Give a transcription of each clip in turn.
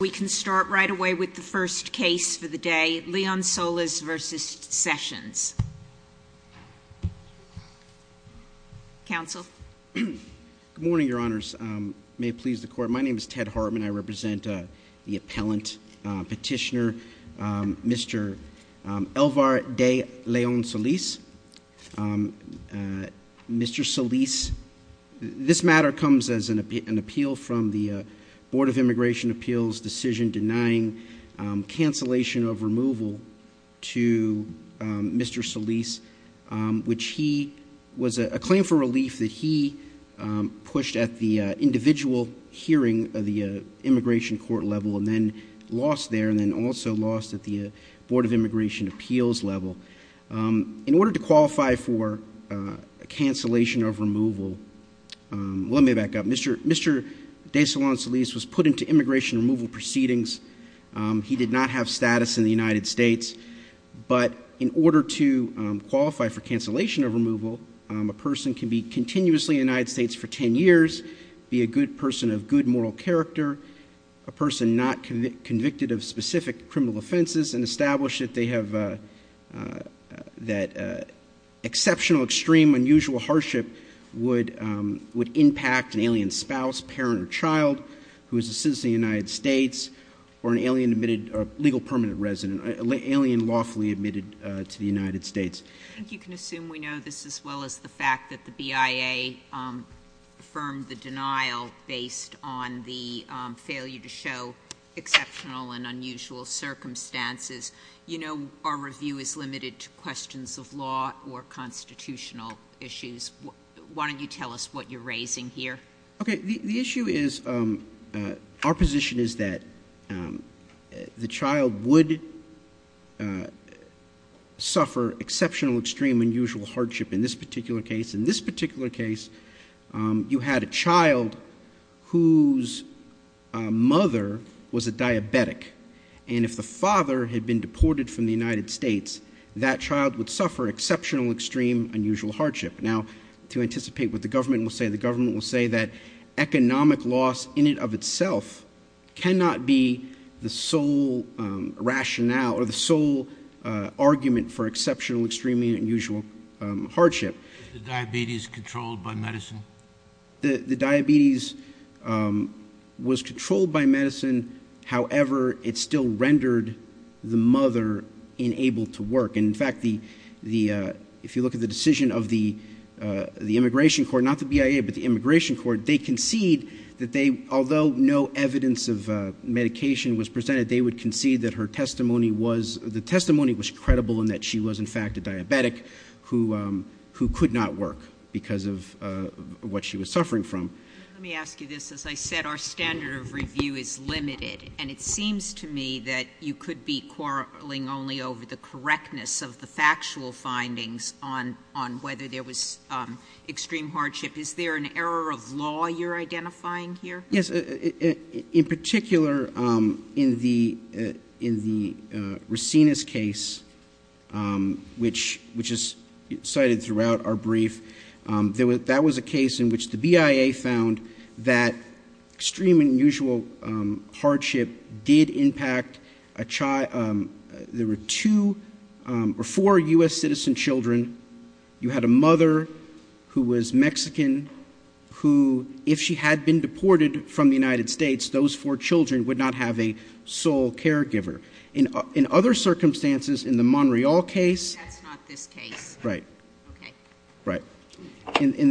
We can start right away with the first case for the day, Leon-Solis v. Sessions. Counsel. Good morning, your honors. May it please the court. My name is Ted Hartman. I represent the appellant petitioner, Mr. Elvar de Leon-Solis. Mr. Solis, this matter comes as an appeal from the Board of Immigration Appeals' decision denying cancellation of removal to Mr. Solis, which he, was a claim for relief that he pushed at the individual hearing of the immigration court level and then lost there and then also lost at the Board of Immigration Appeals level. In order to qualify for cancellation of removal, let me back up. Mr. de Leon-Solis was put into immigration removal proceedings. He did not have status in the United States, but in order to qualify for cancellation of removal, a person can be continuously in the United States for 10 years, be a good person of good moral character, a person not convicted of specific criminal offenses, and establish that they have, that exceptional, extreme, unusual hardship would impact an alien spouse, parent, or child who is a citizen of the United States, or an alien admitted, legal permanent resident, alien lawfully admitted to the United States. I think you can assume we know this as well as the fact that the BIA affirmed the denial based on the failure to show exceptional and unusual circumstances. You know our review is limited to questions of law or constitutional issues. Why don't you tell us what you're raising here? Okay. The issue is, our position is that the child would suffer exceptional, extreme, unusual hardship in this particular case. In this particular case, you had a child whose mother was a diabetic. And if the father had been deported from the United States, that child would suffer exceptional, extreme, unusual hardship. Now, to anticipate what the government will say, the government will say that economic loss in and of itself cannot be the sole rationale, or the sole argument for exceptional, extreme, unusual hardship. Is the diabetes controlled by medicine? The diabetes was controlled by medicine. However, it still rendered the mother unable to work. In fact, if you look at the decision of the immigration court, not the BIA, but the immigration court, they concede that although no evidence of medication was presented, they would concede that her testimony was credible and that she was in fact a diabetic who could not work because of what she was suffering from. Let me ask you this. As I said, our standard of review is limited. And it seems to me that you could be quarreling only over the correctness of the factual findings on whether there was extreme hardship. Is there an error of law you're identifying here? Yes. In particular, in the Racina's case, which is cited throughout our brief, that was a case in which the BIA found that extreme and unusual hardship did impact a child. There were two or four U.S. citizen children. You had a mother who was Mexican who, if she had been deported from the United States, those four children would not have a sole caregiver. In other circumstances, in the Monreal case... That's not this case. Right. Okay. Right. In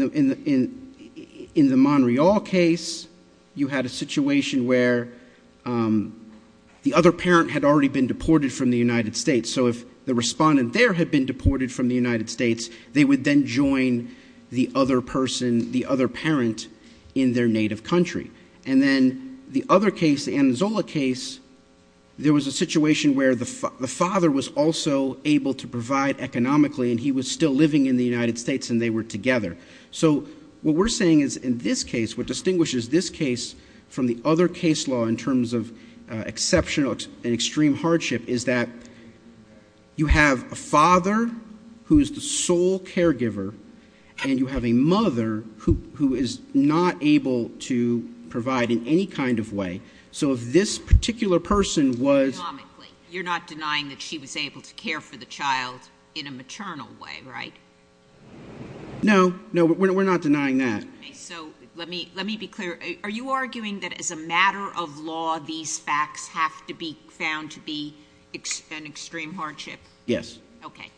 the Monreal case, you had a situation where the other parent had already been deported from the United States. So if the respondent there had been deported from the United States, they would then join the other person, the other parent in their native country. And then the other case, the Anzola case, there was a situation where the father was also able to provide economically and he was still living in the United States and they were together. So what we're saying is in this case, what distinguishes this case from the other case law in terms of exceptional and extreme hardship is that you have a father who is the sole caregiver and you have a mother who is not able to provide in any kind of way. So if this particular person was... Economically. You're not denying that she was able to care for the child in a maternal way, right? No. No, we're not denying that. Okay. So let me be clear. Are you arguing that as a matter of law, these facts have to be found to be an extreme hardship? Yes. Okay.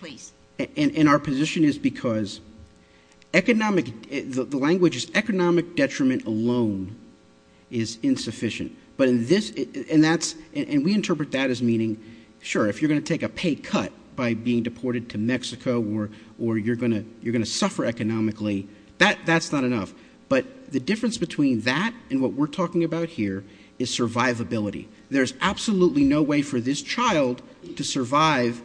Please. And our position is because economic... The language is economic detriment alone is insufficient. But in this... And that's... And we interpret that as meaning, sure, if you're going to take a pay cut by being deported to Mexico or you're going to suffer economically, that's not enough. But the difference between that and what we're talking about here is survivability. There's absolutely no way for this child to survive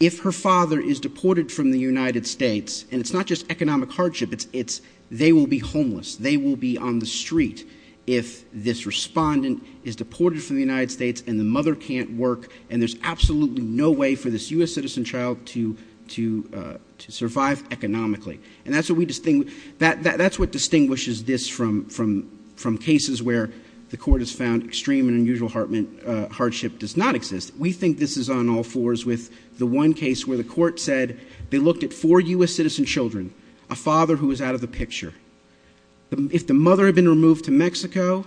if her father is deported from the United States. And it's not just economic hardship. It's they will be homeless. They will be on the street if this respondent is deported from the United States and the mother can't work. And there's absolutely no way for this U.S. citizen child to survive economically. And that's what we... That's what distinguishes this from cases where the court has found extreme and unusual hardship does not exist. We think this is on all fours with the one case where the court said they looked at four U.S. citizen children, a father who was out of the picture. If the mother had been removed to Mexico,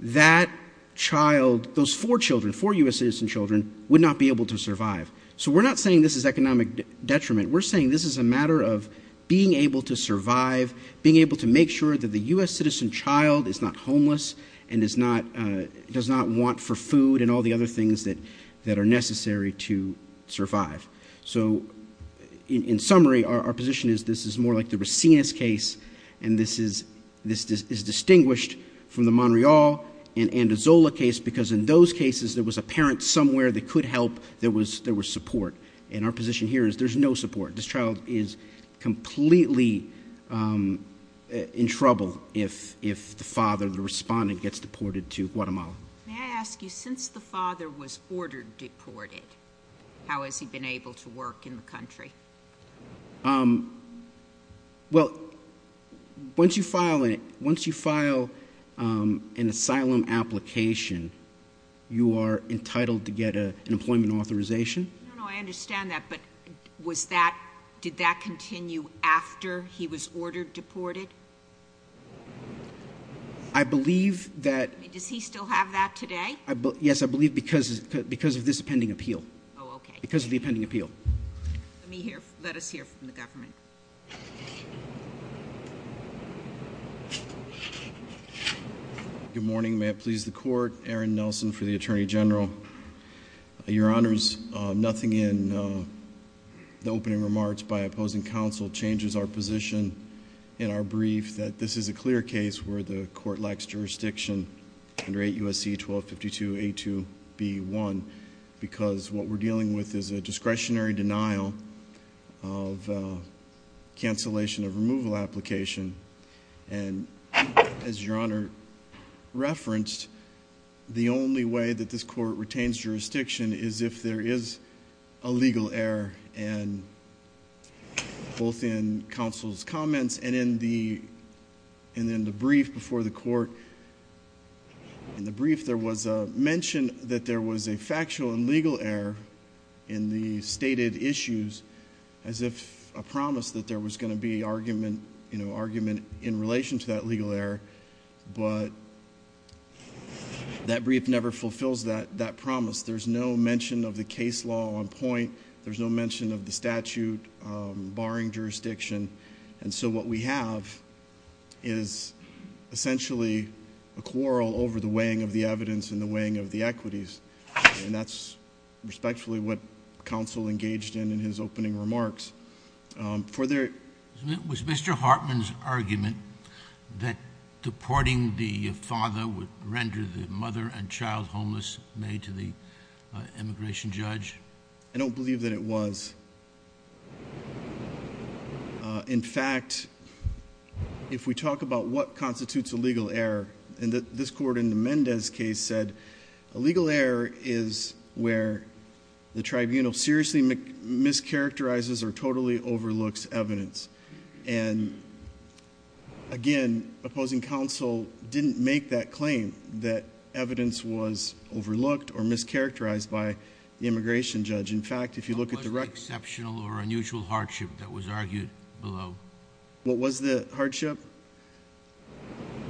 that child, those four children, four U.S. citizen children, would not be able to survive. So we're not saying this is economic detriment. We're saying this is a matter of being able to survive, being able to make sure that the U.S. citizen child is not homeless and does not want for food and all the other things that are necessary to survive. So in summary, our position is this is more like the Racines case, and this is distinguished from the Montreal and Andazola case because in those cases there was a parent somewhere that could help. There was support. And our position here is there's no support. This child is completely in trouble if the father, the respondent, gets deported to Guatemala. May I ask you, since the father was ordered deported, how has he been able to work in the country? Well, once you file an asylum application, you are entitled to get an employment authorization. No, no, I understand that. But did that continue after he was ordered deported? I believe that— Does he still have that today? Yes, I believe because of this pending appeal. Oh, okay. Because of the pending appeal. Let us hear from the government. Good morning. May it please the Court. Aaron Nelson for the Attorney General. Your Honors, nothing in the opening remarks by opposing counsel changes our position in our brief that this is a clear case where the Court lacks jurisdiction under 8 U.S.C. 1252a2b1 because what we're dealing with is a discretionary denial of cancellation of removal application. And as Your Honor referenced, the only way that this Court retains jurisdiction is if there is a legal error, both in counsel's comments and in the brief before the Court. In the brief, there was a mention that there was a factual and legal error in the stated issues as if a promise that there was going to be argument in relation to that legal error, but that brief never fulfills that promise. There's no mention of the case law on point. There's no mention of the statute barring jurisdiction. And so what we have is essentially a quarrel over the weighing of the evidence and the weighing of the equities. And that's respectfully what counsel engaged in in his opening remarks. Was Mr. Hartman's argument that deporting the father would render the mother and child homeless made to the immigration judge? I don't believe that it was. In fact, if we talk about what constitutes a legal error, and this Court in the Mendez case said, a legal error is where the tribunal seriously mischaracterizes or totally overlooks evidence. And again, opposing counsel didn't make that claim, that evidence was overlooked or mischaracterized by the immigration judge. In fact, if you look at the record- What was the exceptional or unusual hardship that was argued below? What was the hardship?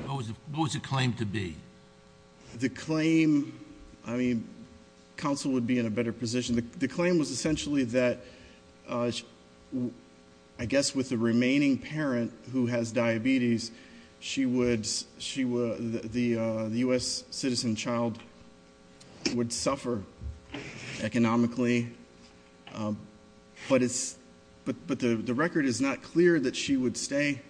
What was the claim to be? The claim, I mean, counsel would be in a better position. The claim was essentially that, I guess with the remaining parent who has diabetes, the U.S. citizen child would suffer economically. But the record is not clear that she would stay,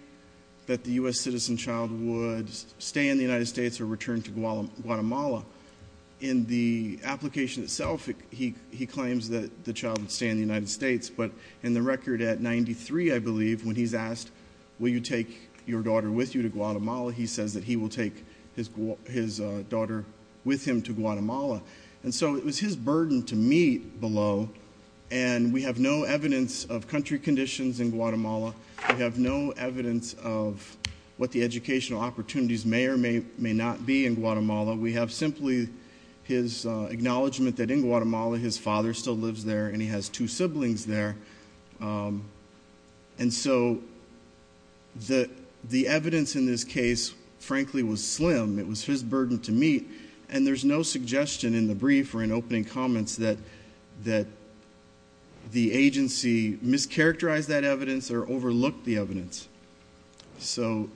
that the U.S. citizen child would stay in the United States or return to Guatemala. In the application itself, he claims that the child would stay in the United States, but in the record at 93, I believe, when he's asked, will you take your daughter with you to Guatemala, he says that he will take his daughter with him to Guatemala. And so it was his burden to meet below, and we have no evidence of country conditions in Guatemala. We have no evidence of what the educational opportunities may or may not be in Guatemala. We have simply his acknowledgment that in Guatemala his father still lives there, and he has two siblings there. And so the evidence in this case, frankly, was slim. It was his burden to meet. And there's no suggestion in the brief or in opening comments that the agency mischaracterized that evidence or overlooked the evidence. So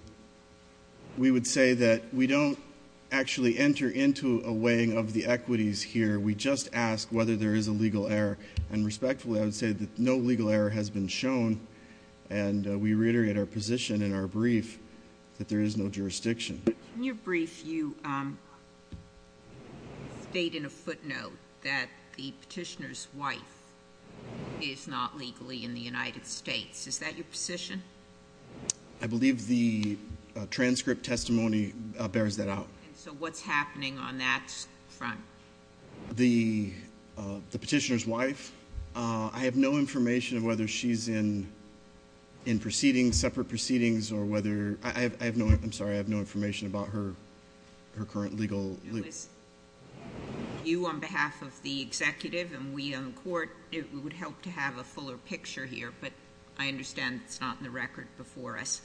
we would say that we don't actually enter into a weighing of the equities here. We just ask whether there is a legal error. And respectfully, I would say that no legal error has been shown, and we reiterate our position in our brief that there is no jurisdiction. In your brief, you state in a footnote that the petitioner's wife is not legally in the United States. Is that your position? I believe the transcript testimony bears that out. And so what's happening on that front? The petitioner's wife, I have no information of whether she's in separate proceedings or whether ‑‑I'm sorry, I have no information about her current legal ‑‑ You on behalf of the executive and we on the court, it would help to have a fuller picture here, but I understand it's not in the record before us.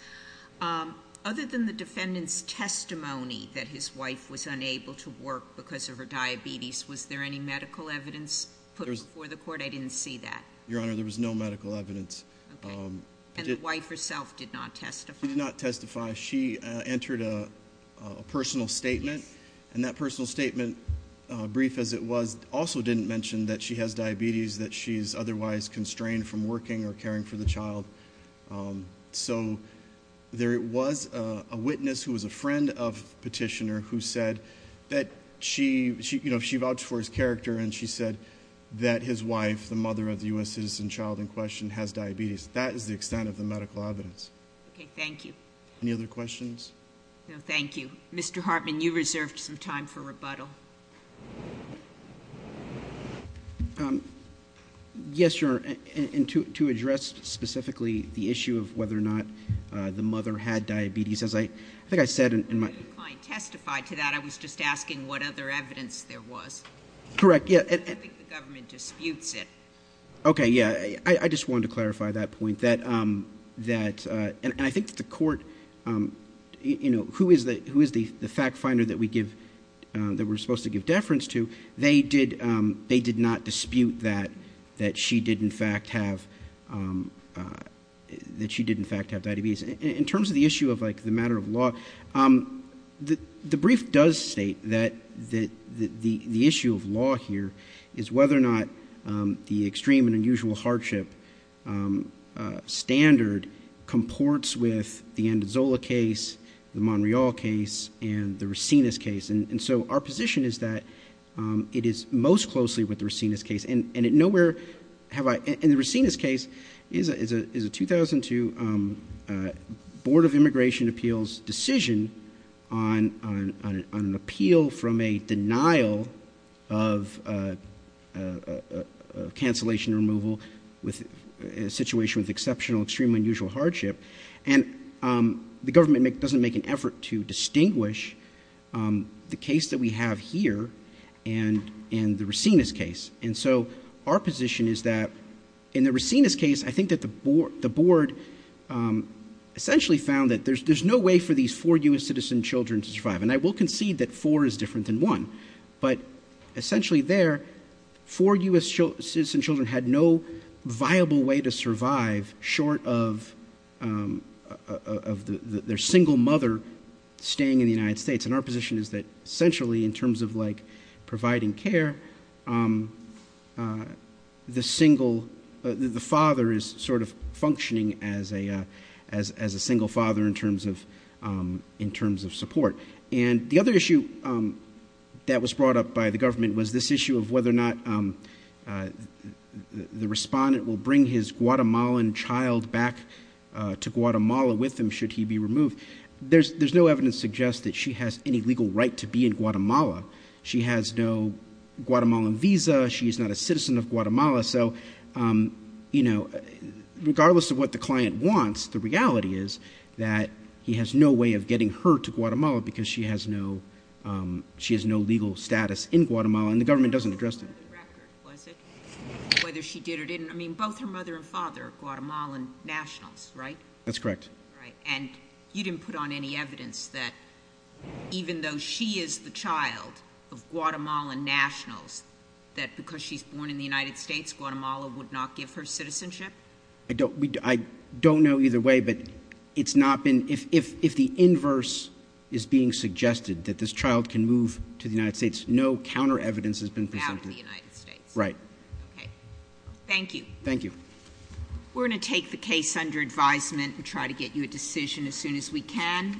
Other than the defendant's testimony that his wife was unable to work because of her diabetes, was there any medical evidence put before the court? I didn't see that. Your Honor, there was no medical evidence. And the wife herself did not testify? She did not testify. She entered a personal statement. And that personal statement, brief as it was, also didn't mention that she has diabetes, that she's otherwise constrained from working or caring for the child. So there was a witness who was a friend of the petitioner who said that she vouched for his character and she said that his wife, the mother of the U.S. citizen child in question, has diabetes. That is the extent of the medical evidence. Okay, thank you. Any other questions? No, thank you. Mr. Hartman, you reserved some time for rebuttal. Yes, Your Honor, and to address specifically the issue of whether or not the mother had diabetes, as I think I said in my ‑‑ Your client testified to that. I was just asking what other evidence there was. Correct, yeah. I think the government disputes it. Okay, yeah. I just wanted to clarify that point, that ‑‑ and I think the court, you know, who is the fact finder that we give ‑‑ that we're supposed to give deference to, they did not dispute that she did in fact have diabetes. In terms of the issue of like the matter of law, the brief does state that the issue of law here is whether or not the extreme and unusual hardship standard comports with the Andazola case, the Monreal case, and the Racines case. And so our position is that it is most closely with the Racines case. And nowhere have I ‑‑ and the Racines case is a 2002 Board of Immigration Appeals decision on an appeal from a denial of cancellation removal with a situation with exceptional, extreme and unusual hardship. And the government doesn't make an effort to distinguish the case that we have here and the Racines case. And so our position is that in the Racines case, I think that the board essentially found that there's no way for these four U.S. citizen children to survive. And I will concede that four is different than one. But essentially there, four U.S. citizen children had no viable way to survive short of their single mother staying in the United States. And our position is that essentially in terms of like providing care, the single, the father is sort of functioning as a single father in terms of support. And the other issue that was brought up by the government was this issue of whether or not the respondent will bring his Guatemalan child back to Guatemala with him should he be removed. There's no evidence to suggest that she has any legal right to be in Guatemala. She has no Guatemalan visa. She is not a citizen of Guatemala. So, you know, regardless of what the client wants, the reality is that he has no way of getting her to Guatemala because she has no legal status in Guatemala. And the government doesn't address that. The record, was it, whether she did or didn't? I mean, both her mother and father are Guatemalan nationals, right? That's correct. Right. And you didn't put on any evidence that even though she is the child of Guatemalan nationals, that because she's born in the United States, Guatemala would not give her citizenship? I don't know either way, but it's not been, if the inverse is being suggested, that this child can move to the United States, no counter evidence has been presented. Out of the United States. Right. Okay. Thank you. Thank you. We're going to take the case under advisement and try to get you a decision as soon as we can.